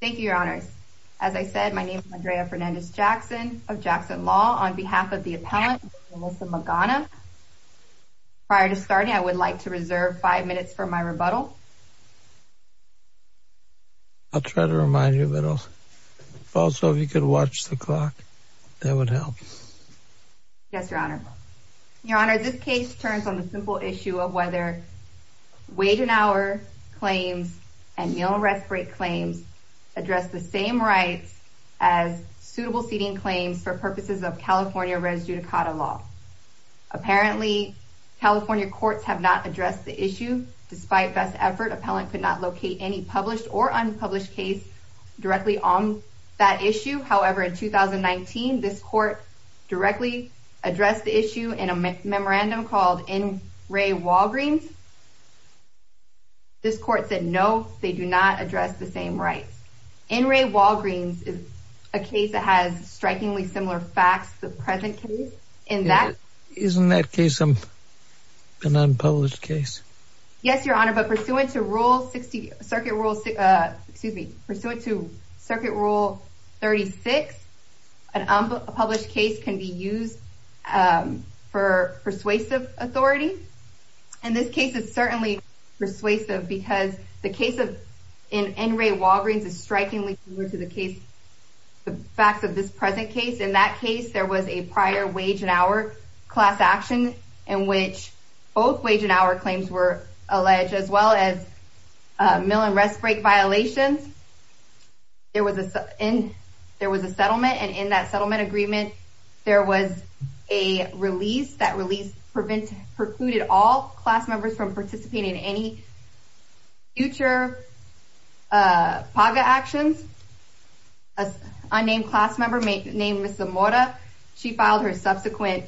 Thank you, Your Honors. As I said, my name is Andrea Fernandez-Jackson of Jackson Law on behalf of the appellant, Melissa Magana. Prior to starting, I would like to reserve five minutes for my rebuttal. I'll try to remind you, but also if you could watch the clock, that would help. Yes, Your Honor. Your Honor, this case turns on the simple issue of whether wait an hour claims and meal and rest break claims address the same rights as suitable seating claims for purposes of California res judicata law. Apparently, California courts have not addressed the issue. Despite best effort, appellant could not locate any published or unpublished case directly on that issue. However, in 2019, this court directly addressed the issue in a memorandum called N. Ray Walgreens. This court said, no, they do not address the same rights. N. Ray Walgreens is a case that has strikingly similar facts to the present case, and that- Isn't that case an unpublished case? Yes, Your Honor, but pursuant to rule 60, circuit rule, excuse me, pursuant to circuit rule 36, an unpublished case can be used for persuasive authority. And this case is certainly persuasive because the case in N. Ray Walgreens is strikingly similar to the case, the facts of this present case. In that case, there was a prior wage and hour class action in which both wage and hour claims were alleged, as well as meal and rest break violations. There was a settlement, and in that settlement agreement, there was a release. That release precluded all class members from participating in any future PAGA actions. A unnamed class member named Ms. Zamora, she filed her subsequent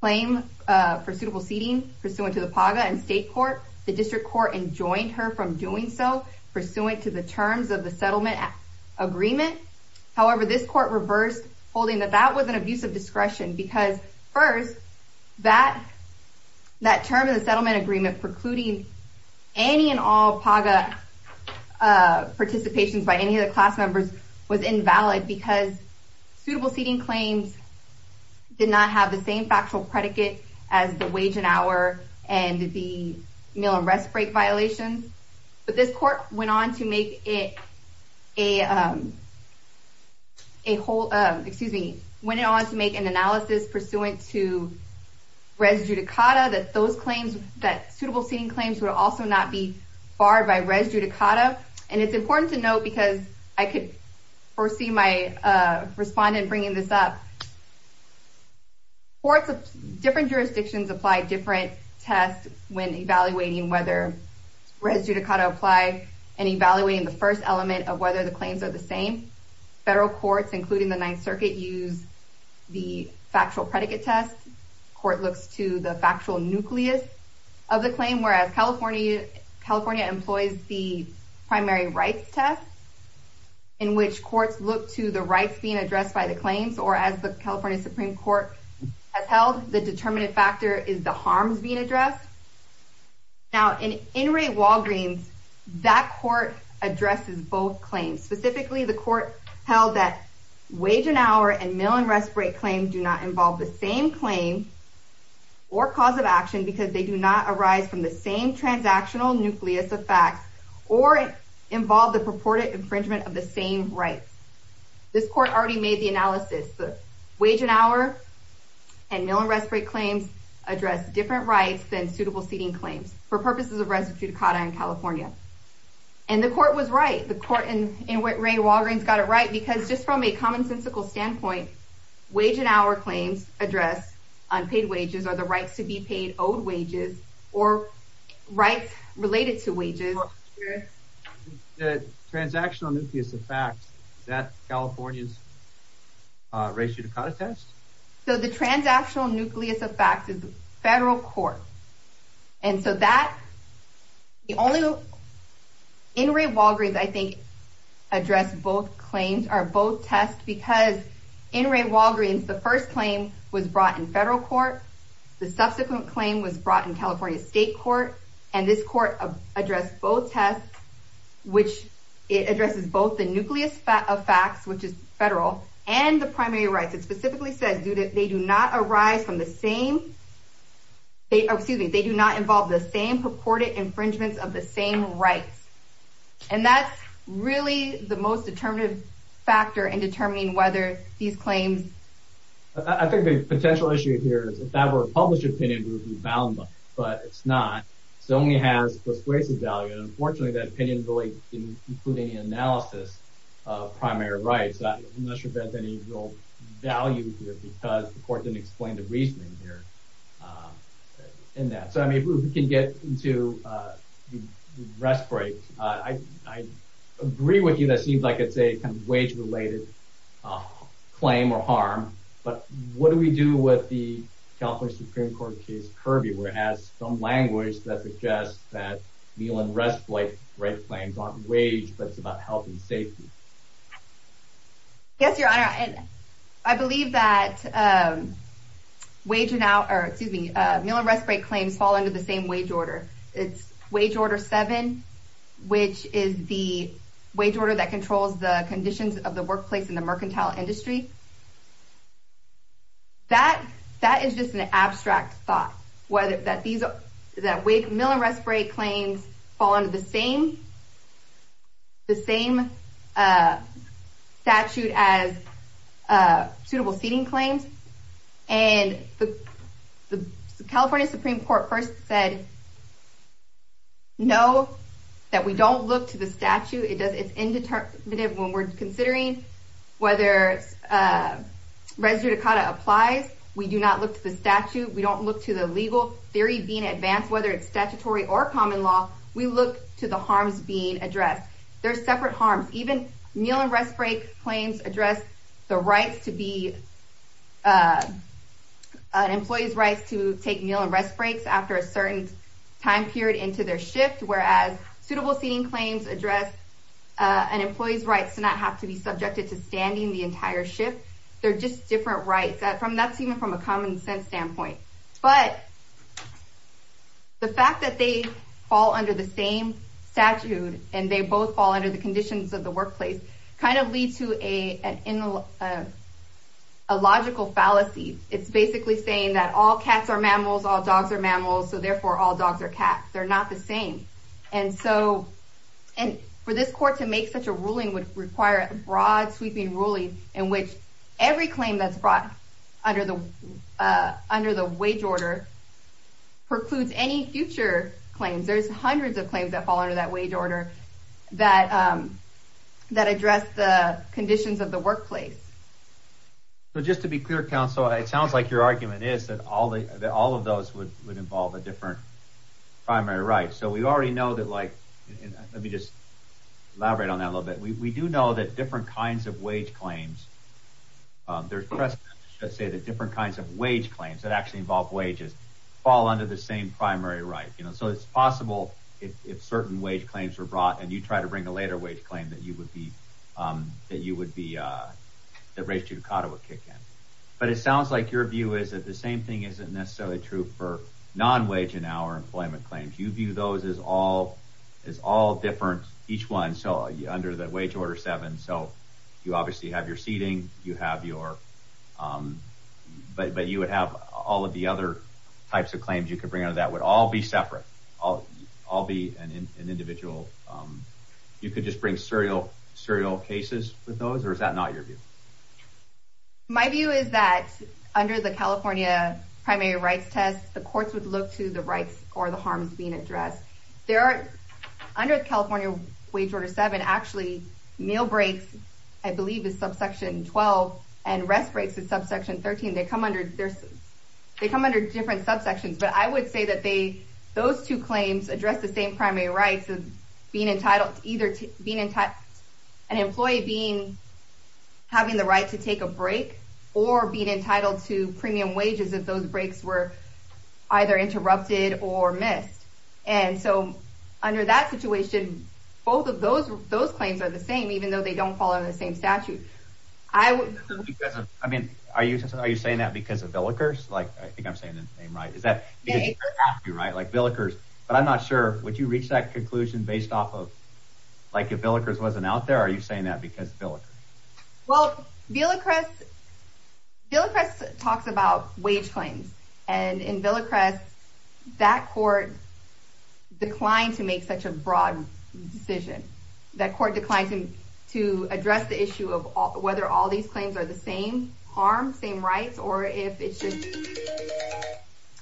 claim for suitable seating, pursuant to the PAGA and state court. The district court enjoined her from doing so, pursuant to the terms of the settlement agreement. However, this court reversed, holding that that was an abuse of discretion because first, that term in the settlement agreement precluding any and all PAGA participations by any of the class members was invalid because suitable seating claims did not have the same factual predicate as the wage and hour and the meal and rest break violations. But this court went on to make it a whole, excuse me, went on to make an analysis pursuant to res judicata, that those claims, that suitable seating claims would also not be barred by res judicata. And it's important to note, because I could foresee my respondent bringing this up, courts of different jurisdictions apply different tests when evaluating whether res judicata apply and evaluating the first element of whether the claims are the same. Federal courts, including the Ninth Circuit, use the factual predicate test. Court looks to the factual nucleus of the claim, whereas California employs the primary rights test, in which courts look to the rights being addressed by the claims, or as the California Supreme Court has held, the determinant factor is the harms being addressed. Now, in Inmate Walgreens, that court addresses both claims. Specifically, the court held that wage and hour and meal and rest break claims do not involve the same claim or cause of action because they do not arise from the same transactional nucleus of facts or involve the purported infringement of the same rights. This court already made the analysis, the wage and hour and meal and rest break claims address different rights than suitable seating claims for purposes of res judicata in California. And the court was right. The court in Inmate Walgreens got it right because just from a commonsensical standpoint, wage and hour claims address unpaid wages or the rights to be paid owed wages or rights related to wages. Yes, sir. Transactional nucleus of facts, that California's res judicata test? So the transactional nucleus of facts is the federal court. And so that, the only, Inmate Walgreens, I think, addressed both claims or both tests because Inmate Walgreens, the first claim was brought in federal court. The subsequent claim was brought in California State Court. And this court addressed both tests, which it addresses both the nucleus of facts, which is federal and the primary rights. It specifically says they do not arise from the same, excuse me, they do not involve the same purported infringements of the same rights. And that's really the most determinative factor in determining whether these claims. I think the potential issue here is if that were a published opinion, it would be bound, but it's not. It only has persuasive value. And unfortunately, that opinion really didn't include any analysis of primary rights. I'm not sure if that's any real value here because the court didn't explain the reasoning here in that. So, I mean, if we can get into the rest break, I agree with you, that seems like it's a kind of wage-related claim or harm, but what do we do with the California Supreme Court case, Kirby, where it has some language that suggests that meal and rest break claims aren't wage, but it's about health and safety? Yes, Your Honor, and I believe that wage now, or excuse me, meal and rest break claims fall under the same wage order. It's wage order seven, which is the wage order that controls the conditions of the workplace in the mercantile industry. That is just an abstract thought, whether that these, that meal and rest break claims fall under the same statute as suitable seating claims. And the California Supreme Court first said, no, that we don't look to the statute. It's indeterminate when we're considering whether res judicata applies. We do not look to the statute. We don't look to the legal theory being advanced, whether it's statutory or common law, we look to the harms being addressed. They're separate harms. Even meal and rest break claims address the rights to be, an employee's rights to take meal and rest breaks after a certain time period into their shift, whereas suitable seating claims address an employee's rights to not have to be subjected to standing the entire shift. They're just different rights. That's even from a common sense standpoint. But the fact that they fall under the same statute and they both fall under the conditions of the workplace kind of leads to a logical fallacy. It's basically saying that all cats are mammals, all dogs are mammals, so therefore all dogs are cats. They're not the same. And so, and for this court to make such a ruling would require a broad sweeping ruling in which every claim that's brought under the wage order precludes any future claims. There's hundreds of claims that fall under that wage order that address the conditions of the workplace. So just to be clear, counsel, it sounds like your argument is that all of those would involve a different primary right. So we already know that like, let me just elaborate on that a little bit. We do know that different kinds of wage claims, there's precedent to say that different kinds of wage claims that actually involve wages fall under the same primary right. So it's possible if certain wage claims were brought and you try to bring a later wage claim that you would be, that race judicata would kick in. But it sounds like your view is that the same thing isn't necessarily true for non-wage and hour employment claims. You view those as all different, each one. So under the wage order seven, so you obviously have your seating, you have your, but you would have all of the other types of claims you could bring under that would all be separate, all be an individual. You could just bring serial cases with those or is that not your view? My view is that under the California primary rights test, the courts would look to the rights or the harms being addressed. There are under California wage order seven, actually meal breaks, I believe is subsection 12 and rest breaks is subsection 13. They come under different subsections, but I would say that those two claims address the same primary rights of being entitled to either being an employee being having the right to take a break or being entitled to premium wages if those breaks were either interrupted or missed. And so under that situation, both of those claims are the same, even though they don't fall under the same statute. I mean, are you saying that because of Villickers? Like, I think I'm saying the same, right? Is that right? Like Villickers, but I'm not sure, would you reach that conclusion based off of, like if Villickers wasn't out there, are you saying that because of Villickers? Well, Villickers talks about wage claims and in Villickers, that court declined to make such a broad decision. That court declined to address the issue of whether all these claims are the same harm, same rights, or if it should.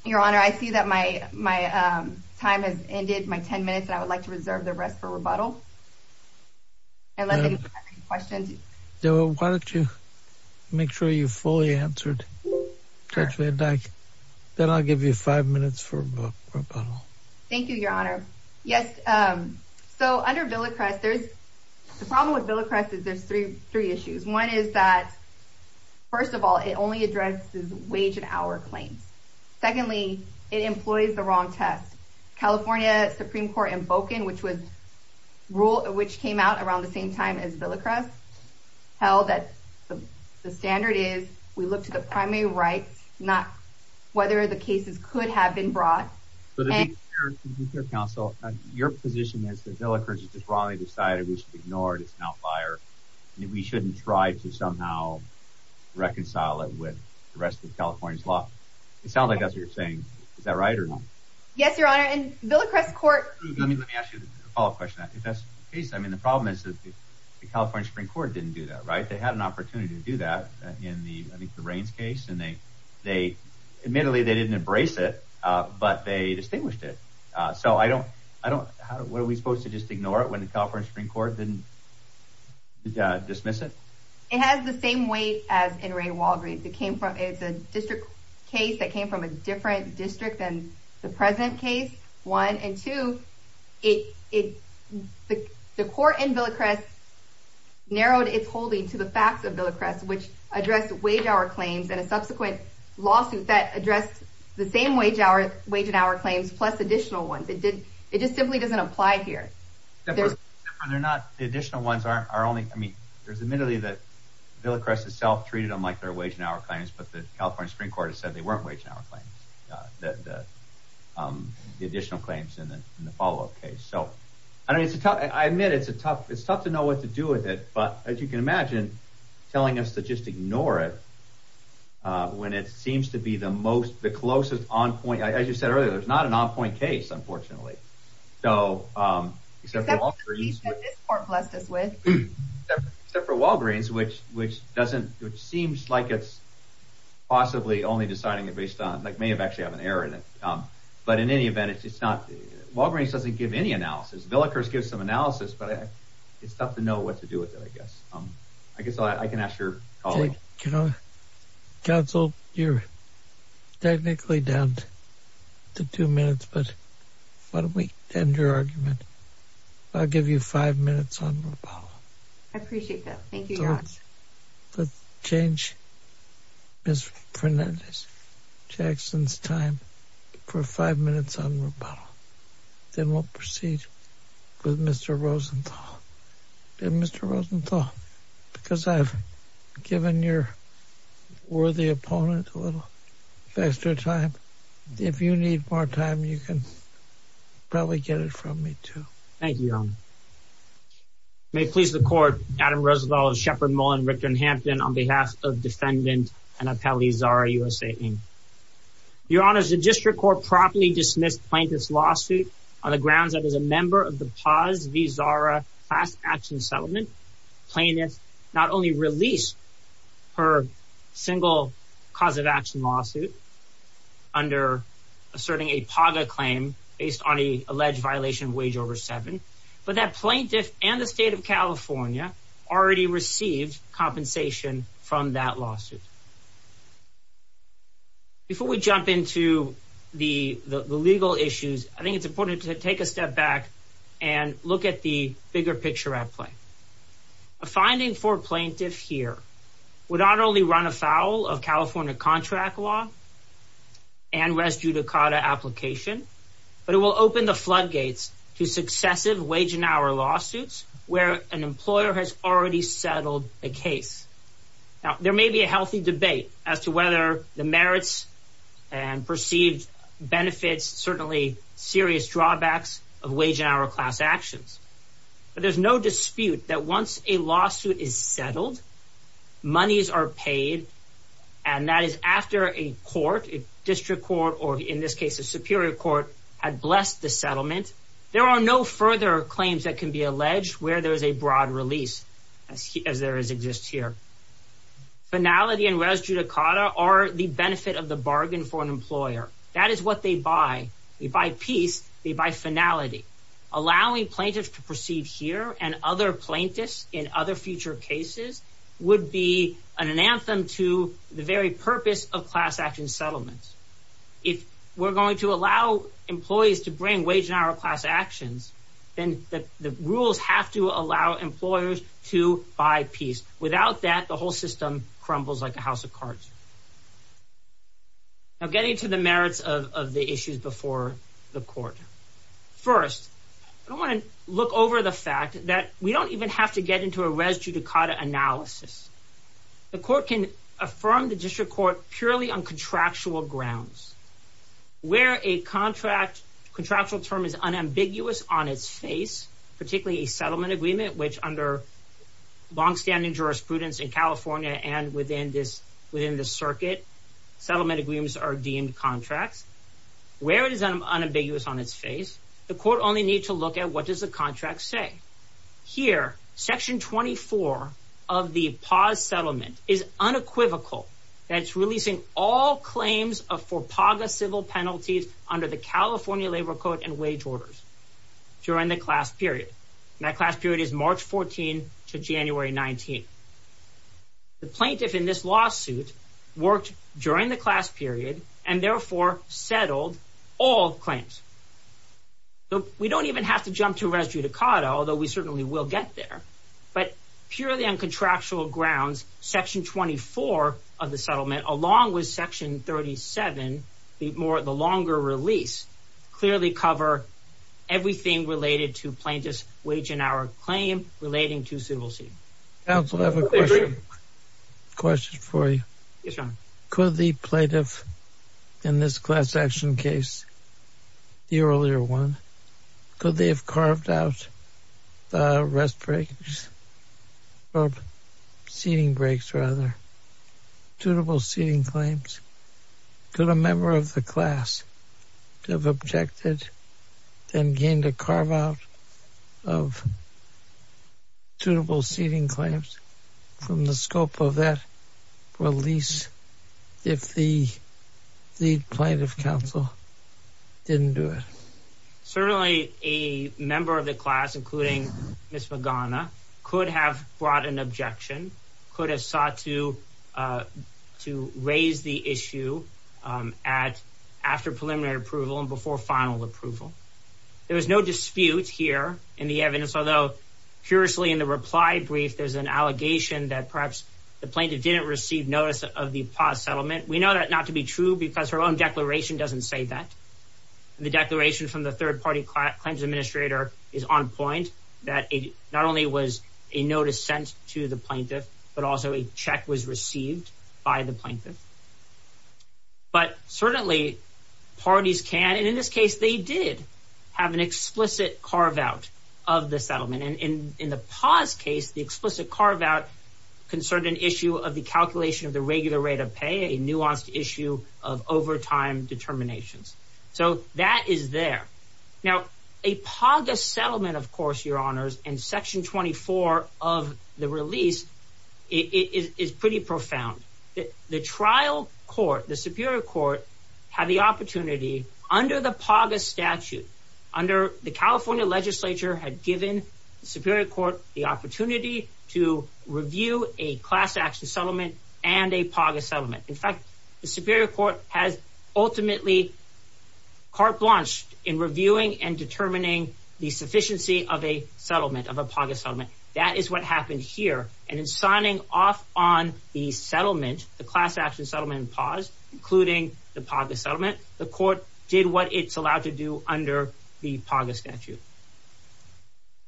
Your honor, I see that my time has ended, my 10 minutes and I would like to reserve the rest for rebuttal. And let me know if you have any questions. Debra, why don't you make sure you fully answered? Then I'll give you five minutes for rebuttal. Thank you, your honor. Yes, so under Villickers, the problem with Villickers is there's three issues. One is that, first of all, it only addresses wage and hour claims. Secondly, it employs the wrong test. California Supreme Court invoking, which came out around the same time as Villickers, held that the standard is, we look to the primary rights, not whether the cases could have been brought. So the defense counsel, your position is that Villickers just wrongly decided we should ignore it, it's an outlier. We shouldn't try to somehow reconcile it with the rest of the California's law. It sounds like that's what you're saying. Is that right or not? Yes, your honor. And Villickers court- Let me ask you a follow up question. If that's the case, I mean, the problem is that the California Supreme Court didn't do that, right? They had an opportunity to do that in the, I think the Raines case, and they admittedly, they didn't embrace it, but they distinguished it. So I don't, how, what are we supposed to just ignore it when the California Supreme Court didn't dismiss it? It has the same weight as in Ray Walgreens. It came from, it's a district case that came from a different district than the present case, one. And two, it, the court in Villickers narrowed its holding to the facts of Villickers, which addressed wage hour claims and a subsequent lawsuit that addressed the same wage hour, wage and hour claims, plus additional ones. It did, it just simply doesn't apply here. There's- They're not, the additional ones are only, I mean, there's admittedly that Villickers itself treated them like they're wage and hour claims, but the California Supreme Court has said that they weren't wage and hour claims, the additional claims in the follow-up case. So, I mean, it's a tough, I admit, it's a tough, it's tough to know what to do with it, but as you can imagine, telling us to just ignore it when it seems to be the most, the closest on point, as you said earlier, there's not an on point case, unfortunately. So, except for Walgreens- Except for the case that this court blessed us with. Except for Walgreens, which doesn't, which seems like it's possibly only deciding it based on, like may have actually have an error in it. But in any event, it's not, Walgreens doesn't give any analysis. Villickers gives some analysis, but it's tough to know what to do with it, I guess. I guess I can ask your colleague. Can I? Counsel, you're technically down to two minutes, but why don't we end your argument? I'll give you five minutes on Rapallo. I appreciate that. Thank you, Your Honor. Let's change Ms. Fernandez-Jackson's time for five minutes on Rapallo. Then we'll proceed with Mr. Rosenthal. And Mr. Rosenthal, because I've given your worthy opponent a little extra time. If you need more time, you can probably get it from me too. Thank you, Your Honor. May it please the court, Adam Rosenthal, Shepard Mullen, Richter, and Hampton on behalf of defendant and appellee Zara Usain. Your Honor, the district court properly dismissed plaintiff's lawsuit on the grounds that as a member of the Paz v. Zara class action settlement, plaintiff not only released her single cause of action lawsuit under asserting a PAGA claim based on the alleged violation of wage over seven, but that plaintiff and the state of California already received compensation from that lawsuit. Before we jump into the legal issues, I think it's important to take a step back and look at the bigger picture at play. A finding for plaintiff here would not only run afoul of California contract law and res judicata application, but it will open the floodgates to successive wage and hour lawsuits where an employer has already settled a case. Now, there may be a healthy debate as to whether the merits and perceived benefits, certainly serious drawbacks of wage and hour class actions, but there's no dispute that once a lawsuit is settled, monies are paid, and that is after a court, district court, or in this case, a superior court had blessed the settlement. There are no further claims that can be alleged where there is a broad release as there is exists here. Finality and res judicata are the benefit of the bargain for an employer. That is what they buy. They buy peace, they buy finality. Allowing plaintiffs to proceed here and other plaintiffs in other future cases would be an anthem to the very purpose of class action settlements. If we're going to allow employees to bring wage and hour class actions, then the rules have to allow employers to buy peace. Without that, the whole system crumbles like a house of cards. Now, getting to the merits of the issues before the court. First, I want to look over the fact that we don't even have to get into a res judicata analysis. The court can affirm the district court purely on contractual grounds. Where a contract contractual term is unambiguous on its face, particularly a settlement agreement, which under longstanding jurisprudence in California and within the circuit, settlement agreements are deemed contracts. Where it is unambiguous on its face, the court only need to look at what does the contract say. Here, section 24 of the Paz settlement is unequivocal that it's releasing all claims of for paga civil penalties under the California Labor Code and wage orders during the class period. That class period is March 14 to January 19. The plaintiff in this lawsuit worked during the class period and therefore settled all claims. We don't even have to jump to res judicata, although we certainly will get there. But purely on contractual grounds, section 24 of the settlement, along with section 37, the longer release, clearly cover everything related to plaintiff's wage and hour claim relating to civil suit. Counsel, I have a question. Question for you. Yes, Your Honor. Could the plaintiff in this class action case, the earlier one, could they have carved out the rest breaks, or seating breaks, rather, suitable seating claims? Could a member of the class have objected and came to carve out of suitable seating claims from the scope of that release if the plaintiff counsel didn't do it? Certainly, a member of the class, including Ms. Magana, could have brought an objection, could have sought to raise the issue after preliminary approval and before final approval. There was no dispute here in the evidence, although, curiously, in the reply brief, there's an allegation that perhaps the plaintiff didn't receive notice of the paused settlement. We know that not to be true because her own declaration doesn't say that. The declaration from the third party claims administrator is on point that not only was a notice sent to the plaintiff, but also a check was received by the plaintiff. But certainly, parties can, and in this case, they did have an explicit carve out of the settlement. And in the paused case, the explicit carve out concerned an issue of the calculation of the regular rate of pay, a nuanced issue of overtime determinations. So that is there. Now, a paused settlement, of course, your honors, in section 24 of the release is pretty profound. The trial court, the superior court, had the opportunity under the paused statute, under the California legislature had given the superior court the opportunity to review a class action settlement and a paused settlement. In fact, the superior court has ultimately carte blanche in reviewing and determining the sufficiency of a settlement, of a paused settlement. That is what happened here. And in signing off on the settlement, the class action settlement paused, including the paused settlement, the court did what it's allowed to do under the paused statute.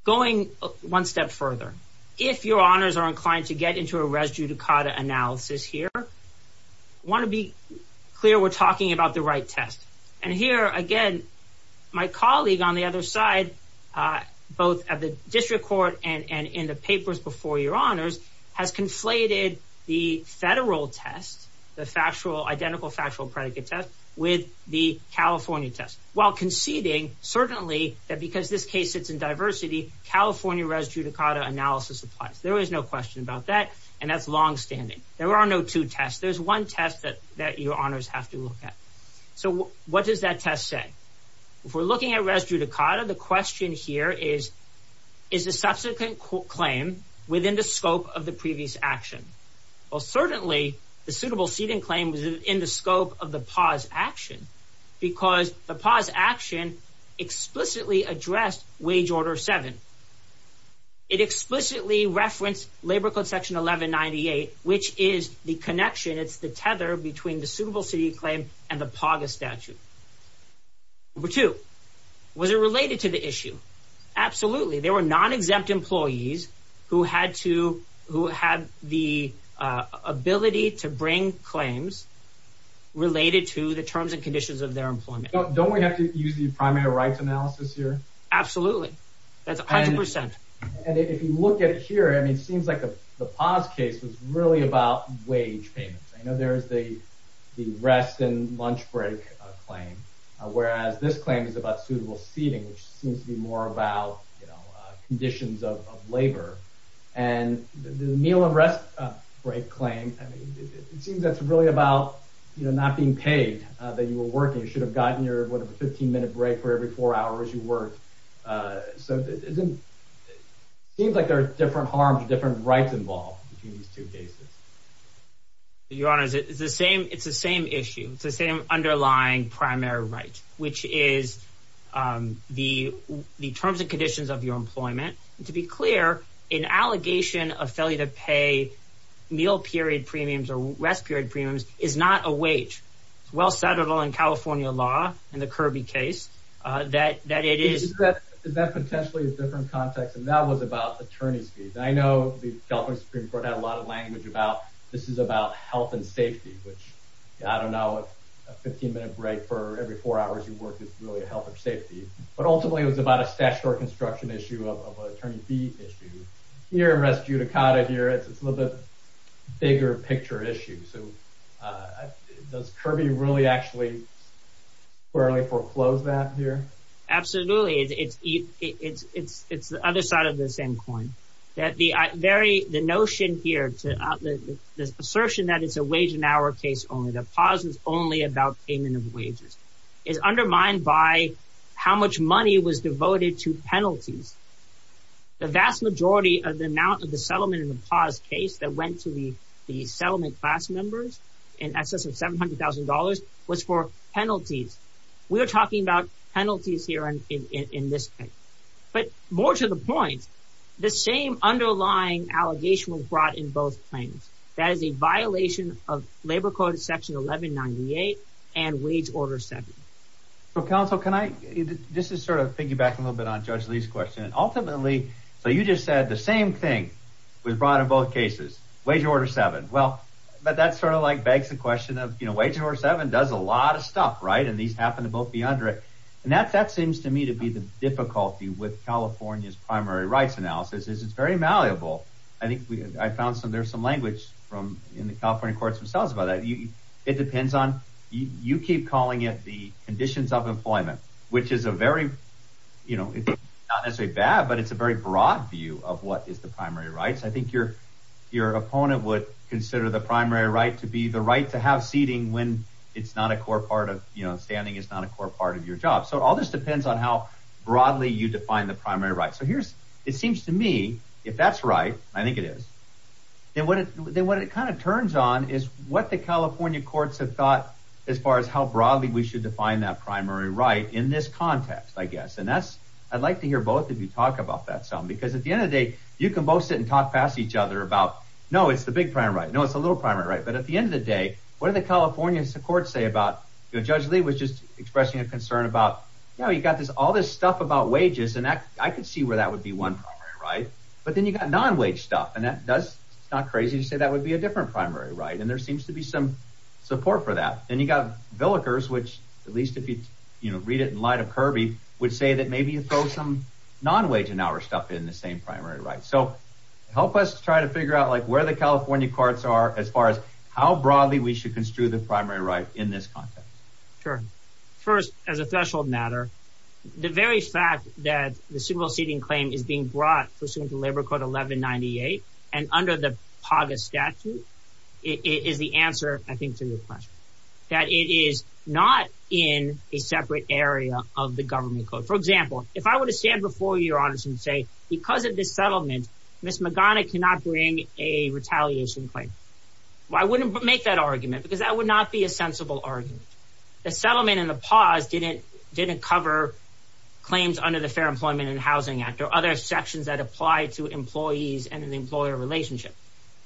Going one step further, if your honors are inclined to get into a res judicata analysis here, want to be clear, we're talking about the right test. And here again, my colleague on the other side, both at the district court and in the papers before your honors has conflated the federal test, the identical factual predicate test with the California test. While conceding, certainly, that because this case sits in diversity, California res judicata analysis applies. There is no question about that. And that's longstanding. There are no two tests. There's one test that your honors have to look at. So what does that test say? If we're looking at res judicata, the question here is, is the subsequent claim within the scope of the previous action? Well, certainly, the suitable seating claim was in the scope of the paused action because the paused action explicitly addressed wage order seven. It explicitly referenced labor code section 1198, which is the connection. It's the tether between the suitable seating claim and the PAGA statute. Number two, was it related to the issue? Absolutely. There were non-exempt employees who had the ability to bring claims related to the terms and conditions of their employment. Don't we have to use the primary rights analysis here? Absolutely. That's a hundred percent. And if you look at it here, I mean, it seems like the paused case was really about wage payments. I know there's the rest and lunch break claim, whereas this claim is about suitable seating, which seems to be more about conditions of labor. And the meal and rest break claim, I mean, it seems that's really about not being paid that you were working. You should have gotten your, a 15 minute break for every four hours you worked. So it seems like there are different harms, different rights involved between these two cases. Your honors, it's the same issue. It's the same underlying primary right, which is the terms and conditions of your employment. To be clear, an allegation of failure to pay meal period premiums or rest period premiums is not a wage. It's well settled in California law in the Kirby case that it is. Is that potentially a different context? And that was about attorney's fees. I know the California Supreme Court had a lot of language about, this is about health and safety, which I don't know, a 15 minute break for every four hours you work is really a health or safety, but ultimately it was about a stash or construction issue of attorney fee issue. Here in Res Judicata here, it's a little bit bigger picture issue. So does Kirby really actually, really foreclose that here? Absolutely, it's the other side of the same coin. That the very, the notion here to, this assertion that it's a wage and hour case only, the pause is only about payment of wages, is undermined by how much money was devoted to penalties. The vast majority of the amount of the settlement in the pause case that went to the settlement class members in excess of $700,000 was for penalties. We are talking about penalties here in this case. But more to the point, the same underlying allegation was brought in both claims. That is a violation of labor code section 1198 and wage order seven. Well, counsel, can I, just to sort of piggyback a little bit on Judge Lee's question, ultimately, so you just said the same thing was brought in both cases, wage order seven. Well, but that's sort of like begs the question of, you know, wage order seven does a lot of stuff, right? And these happen to both be under it. And that seems to me to be the difficulty with California's primary rights analysis is it's very malleable. I think I found some, there's some language from, in the California courts themselves about that. It depends on, you keep calling it the conditions of employment, which is a very, you know, it's not necessarily bad, but it's a very broad view of what is the primary rights. I think your opponent would consider the primary right to be the right to have seating when it's not a core part of, you know, standing is not a core part of your job. So all this depends on how broadly you define the primary rights. So here's, it seems to me, if that's right, I think it is, then what it kind of turns on is what the California courts have thought as far as how broadly we should define that primary right in this context, I guess. And that's, I'd like to hear both of you talk about that some, because at the end of the day, you can both sit and talk past each other about, no, it's the big primary right. No, it's a little primary right. But at the end of the day, what are the California courts say about, you know, Judge Lee was just expressing a concern about, you know, you got this, all this stuff about wages and I could see where that would be one primary right, but then you got non-wage stuff. And that does, it's not crazy to say that would be a different primary right. And there seems to be some support for that. And you got Villickers, which at least if you, you know, read it in light of Kirby, would say that maybe you throw some non-wage and now we're stuck in the same primary right. So help us try to figure out like where the California courts are, as far as how broadly we should construe the primary right in this context. Sure. First, as a threshold matter, the very fact that the single seating claim is being brought pursuant to Labor Code 1198 and under the POGIS statute is the answer, I think to your question. That it is not in a separate area of the government code. For example, if I were to stand before you, Your Honor, and say, because of this settlement, Ms. McGonigal cannot bring a retaliation claim. Well, I wouldn't make that argument because that would not be a sensible argument. The settlement and the pause didn't cover claims under the Fair Employment and Housing Act or other sections that apply to employees and an employer relationship.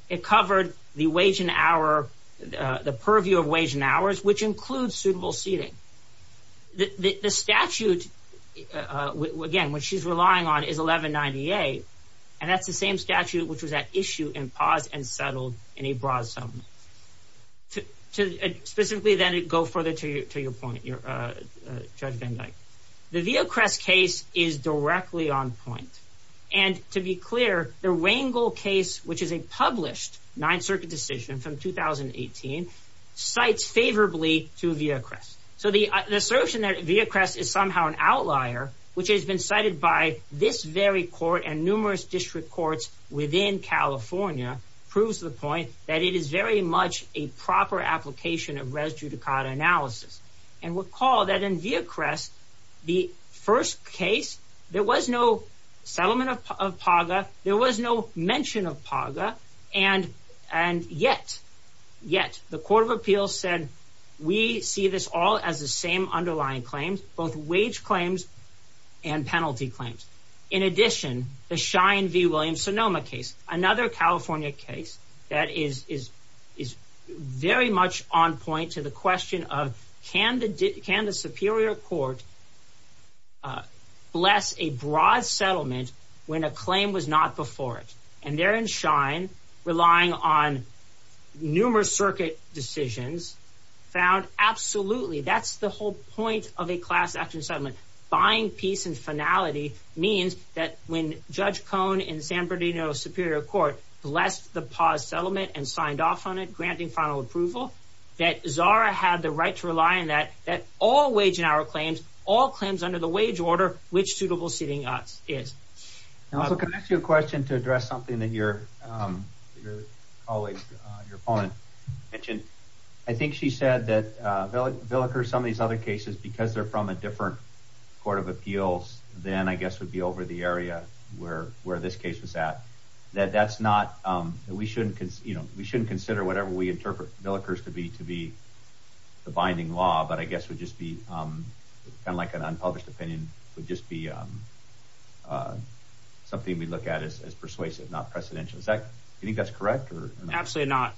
It covered the wage and hour, the purview of wage and hours, which includes suitable seating. The statute, again, which she's relying on, is 1198. And that's the same statute which was at issue and paused and settled in a broad settlement. Specifically, then, to go further to your point, Your Honor, Judge Van Dyke. The Villacrest case is directly on point. And to be clear, the Rangel case, which is a published Ninth Circuit decision from 2018, cites favorably to Villacrest. So the assertion that Villacrest is somehow an outlier, which has been cited by this very court and numerous district courts within California, proves the point that it is very much a proper application of res judicata analysis. And recall that in Villacrest, the first case, there was no settlement of PAGA. There was no mention of PAGA. And yet, yet, the Court of Appeals said, we see this all as the same underlying claims, both wage claims and penalty claims. In addition, the Shine v. Williams-Sonoma case, another California case that is very much on point to the question of can the Superior Court bless a broad settlement when a claim was not before it? And there in Shine, relying on numerous circuit decisions, found absolutely, that's the whole point of a class action settlement, buying peace and finality means that when Judge Cohn in San Bernardino Superior Court blessed the PAWS settlement and signed off on it, granting final approval, that Zara had the right to rely on that, that all wage and hour claims, all claims under the wage order, which suitable seating is. And also, can I ask you a question to address something that your colleague, your opponent, mentioned? I think she said that Villickers, some of these other cases, because they're from a different Court of Appeals, then I guess would be over the area where this case was at, that that's not, that we shouldn't consider whatever we interpret Villickers to be the binding law, but I guess would just be kind of like an unpublished opinion, would just be something we look at as persuasive, not precedential. Is that, do you think that's correct? Absolutely not.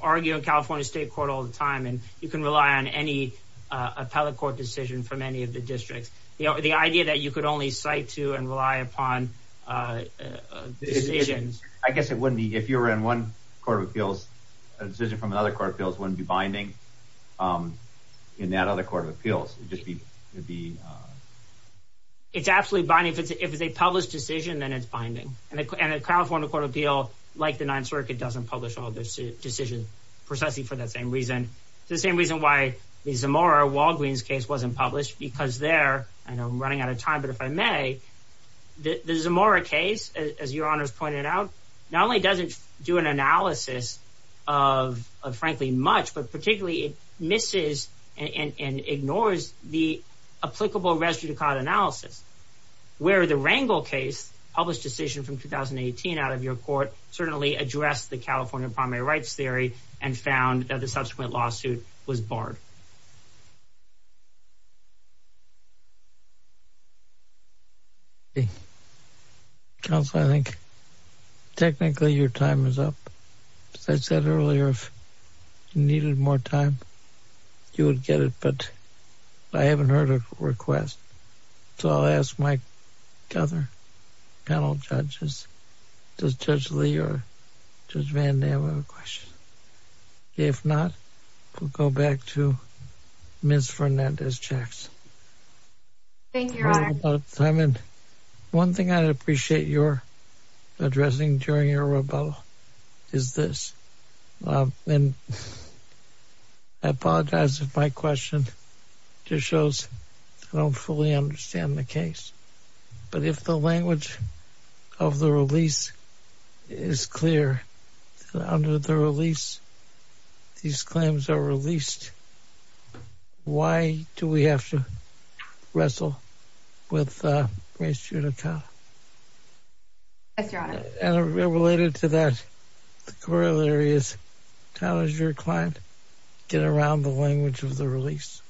Argue in California State Court all the time, and you can rely on any appellate court decision from any of the districts. The idea that you could only cite to and rely upon decisions. I guess it wouldn't be, if you were in one Court of Appeals, a decision from another Court of Appeals wouldn't be binding in that other Court of Appeals. It'd just be, it'd be. It's absolutely binding. If it's a published decision, then it's binding. And a California Court of Appeal, like the Ninth Circuit, doesn't publish all the decisions, precisely for that same reason. It's the same reason why the Zamora-Walgreens case wasn't published, because there, I know I'm running out of time, but if I may, the Zamora case, as Your Honors pointed out, not only doesn't do an analysis of, frankly, much, but particularly it misses and ignores the applicable res judicata analysis, where the Rangel case, published decision from 2018 out of your Court, certainly addressed the California primary rights theory and found that the subsequent lawsuit was barred. Counsel, I think, technically, your time is up. As I said earlier, if you needed more time, you would get it, but I haven't heard a request. So I'll ask my other panel judges. Does Judge Lee or Judge Van Dam have a question? If not, we'll go back to Ms. Fernandez-Jacks. Thank you, Your Honor. Simon, one thing I'd appreciate your addressing during your rebuttal is this. I apologize if my question just shows I don't fully understand the case, but if the language of the release is clear, under the release, these claims are released, why do we have to wrestle with res judicata? Yes, Your Honor. And related to that, the corollary is, tell us your client, get around the language of the release.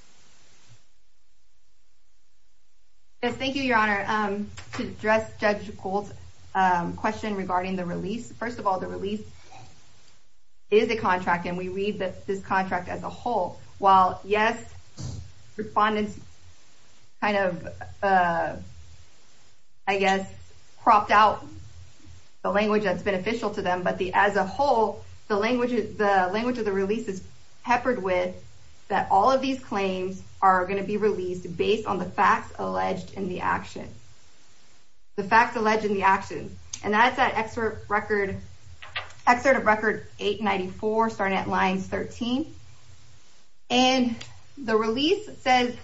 Yes, thank you, Your Honor. To address Judge Cole's question regarding the release, first of all, the release is a contract and we read this contract as a whole. While, yes, respondents kind of, I guess, cropped out the language that's beneficial to them, but as a whole, the language of the release is peppered with that all of these claims are gonna be released based on the facts alleged in the action. The facts alleged in the action. And that's at excerpt record, excerpt of record 894 starting at lines 13. And the release says,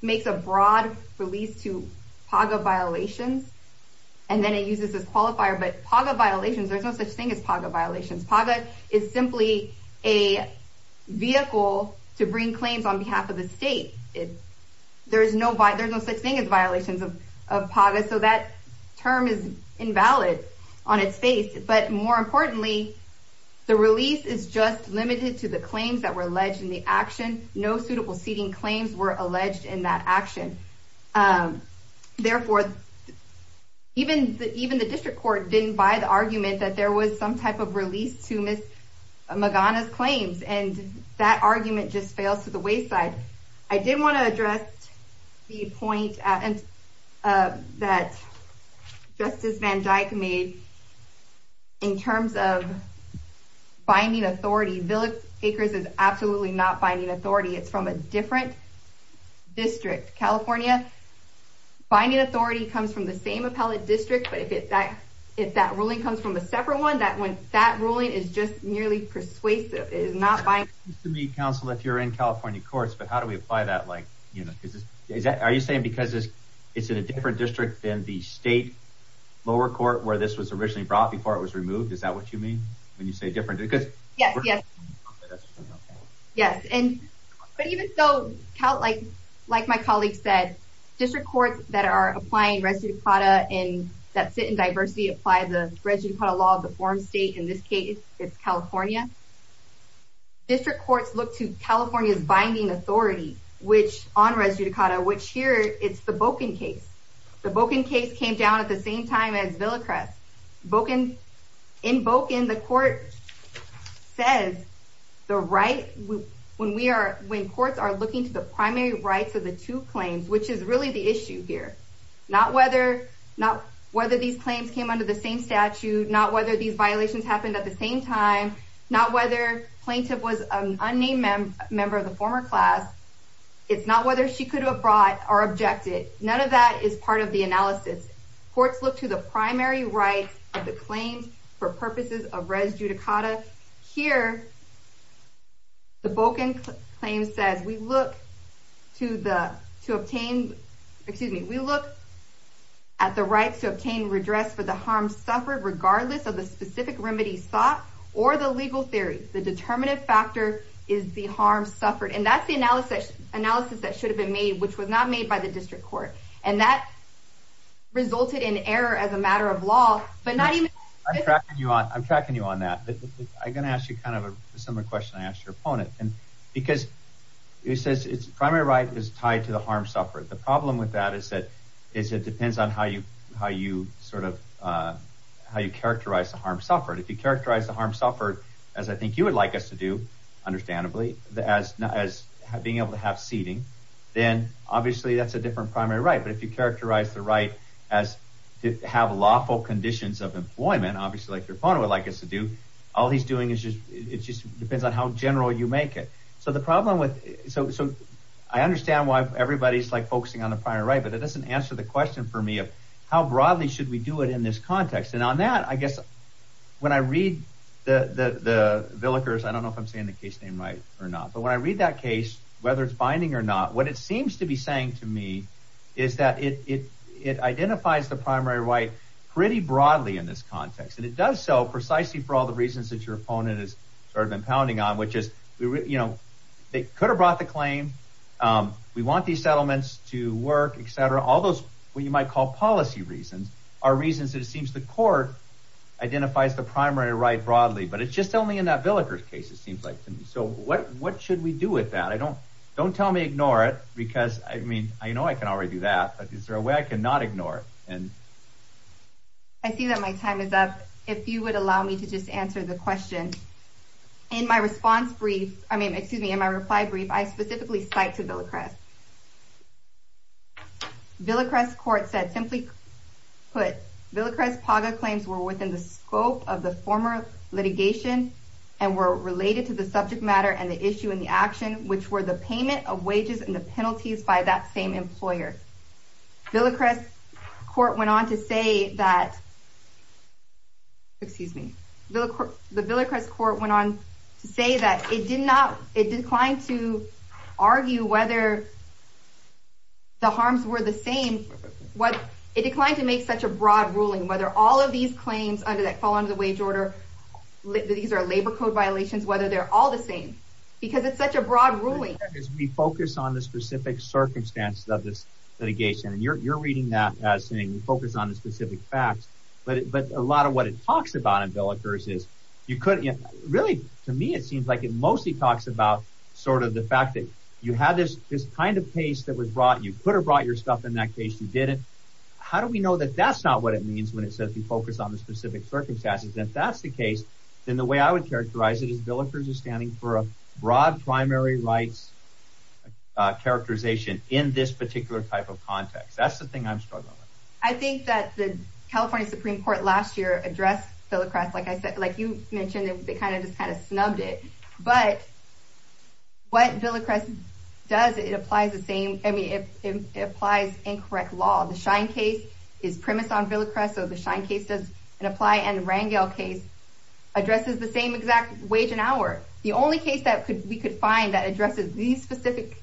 makes a broad release to PAGA violations, and then it uses this qualifier, but PAGA violations, there's no such thing as PAGA violations. PAGA is simply a vehicle to bring claims on behalf of the state. There's no such thing as violations of PAGA, so that term is invalid on its face. But more importantly, the release is just limited to the claims that were alleged in the action. No suitable seating claims were alleged in that action. Therefore, even the district court didn't buy the argument that there was some type of release to Ms. Magana's claims. And that argument just fails to the wayside. I did wanna address the point that Justice Van Dyke made in terms of binding authority. Village Acres is absolutely not binding authority. It's from a different district. California, binding authority comes from the same appellate district, but if that ruling comes from a separate one, that ruling is just nearly persuasive. It is not binding. It's interesting to me, counsel, if you're in California courts, but how do we apply that? Are you saying because it's in a different district than the state lower court where this was originally brought before it was removed? Is that what you mean, when you say different? Yes, yes. Yes, but even so, like my colleague said, district courts that are applying residue de plata and that sit in diversity apply the residue de plata law to the form state. In this case, it's California. District courts look to California's binding authority which on residue de plata, which here it's the Bocan case. The Bocan case came down at the same time as Villa Acres. In Bocan, the court says the right, when courts are looking to the primary rights of the two claims, which is really the issue here, not whether these claims came under the same statute, not whether these violations happened at the same time, not whether plaintiff was an unnamed member of the former class. It's not whether she could have brought or objected. None of that is part of the analysis. Courts look to the primary rights of the claims for purposes of residue de plata. Here, the Bocan claim says, we look to obtain, excuse me, we look at the right to obtain redress for the harm suffered, regardless of the specific remedy sought or the legal theory. The determinative factor is the harm suffered. And that's the analysis that should have been made, which was not made by the district court. And that resulted in error as a matter of law, but not even- I'm tracking you on that. I'm gonna ask you kind of a similar question I asked your opponent. Because it says primary right is tied to the harm suffered. The problem with that is that it depends on how you characterize the harm suffered. If you characterize the harm suffered as I think you would like us to do, understandably, as being able to have seating, then obviously that's a different primary right. But if you characterize the right as to have lawful conditions of employment, obviously like your opponent would like us to do, all he's doing is just, it just depends on how general you make it. So the problem with, so I understand why everybody's focusing on the primary right, but that doesn't answer the question for me of how broadly should we do it in this context? And on that, I guess, when I read the Villickers, I don't know if I'm saying the case name right or not, but when I read that case, whether it's binding or not, what it seems to be saying to me is that it identifies the primary right pretty broadly in this context. And it does so precisely for all the reasons that your opponent has sort of been pounding on, which is they could have brought the claim. We want these settlements to work, et cetera. All those, what you might call policy reasons are reasons that it seems the court identifies the primary right broadly, but it's just only in that Villickers case, it seems like to me. So what should we do with that? I don't, don't tell me ignore it because I mean, I know I can already do that, but is there a way I can not ignore it? I see that my time is up. If you would allow me to just answer the question. In my response brief, I mean, excuse me, in my reply brief, I specifically cite to Villacrest. Villacrest court said simply put, Villacrest Paga claims were within the scope of the former litigation and were related to the subject matter and the issue and the action, which were the payment of wages and the penalties by that same employer. Villacrest court went on to say that, excuse me, the Villacrest court went on to say that it did not, it declined to argue whether the harms were the same, what it declined to make such a broad ruling, whether all of these claims under that fall under the wage order, these are labor code violations, whether they're all the same, because it's such a broad ruling. As we focus on the specific circumstances of this litigation, and you're reading that as saying, we focus on the specific facts, but a lot of what it talks about in Villacrest is, you couldn't, really to me, it seems like it mostly talks about sort of the fact that you had this kind of case that was brought, you could have brought your stuff in that case, you didn't. How do we know that that's not what it means when it says we focus on the specific circumstances? If that's the case, then the way I would characterize it is Villacrest is standing for a broad primary rights characterization in this particular type of context. That's the thing I'm struggling with. I think that the California Supreme Court last year addressed Villacrest, like I said, like you mentioned, they kind of just kind of snubbed it, but what Villacrest does, it applies the same, I mean, it applies incorrect law. The Shine case is premise on Villacrest, so the Shine case does apply, and the Rangel case addresses the same exact wage and hour. The only case that we could find that addresses these specific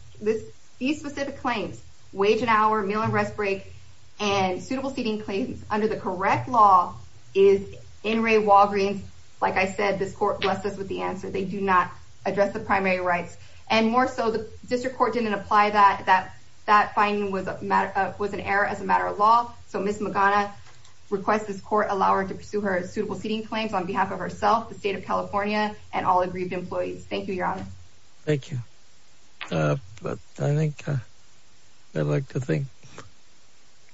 claims, wage and hour, meal and rest break, and suitable seating claims under the correct law is in Ray Walgreens. Like I said, this court blessed us with the answer. They do not address the primary rights, and more so, the district court didn't apply that. That finding was an error as a matter of law, so Ms. Magana requests this court allow her to pursue her suitable seating claims on behalf of herself, the state of California, and all aggrieved employees. Thank you, Your Honor. Thank you, but I think I'd like to thank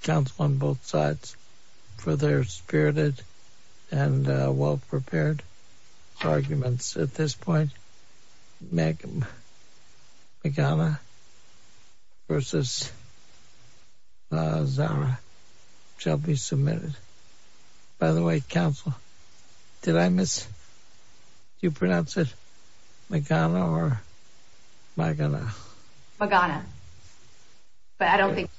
counsel on both sides for their spirited and well-prepared arguments. At this point, Magana versus Zara shall be submitted. By the way, counsel, did I miss, you pronounce it Magana or Magana? Magana. Magana, but I don't think.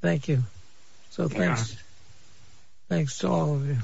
Thank you, so thanks to all of you.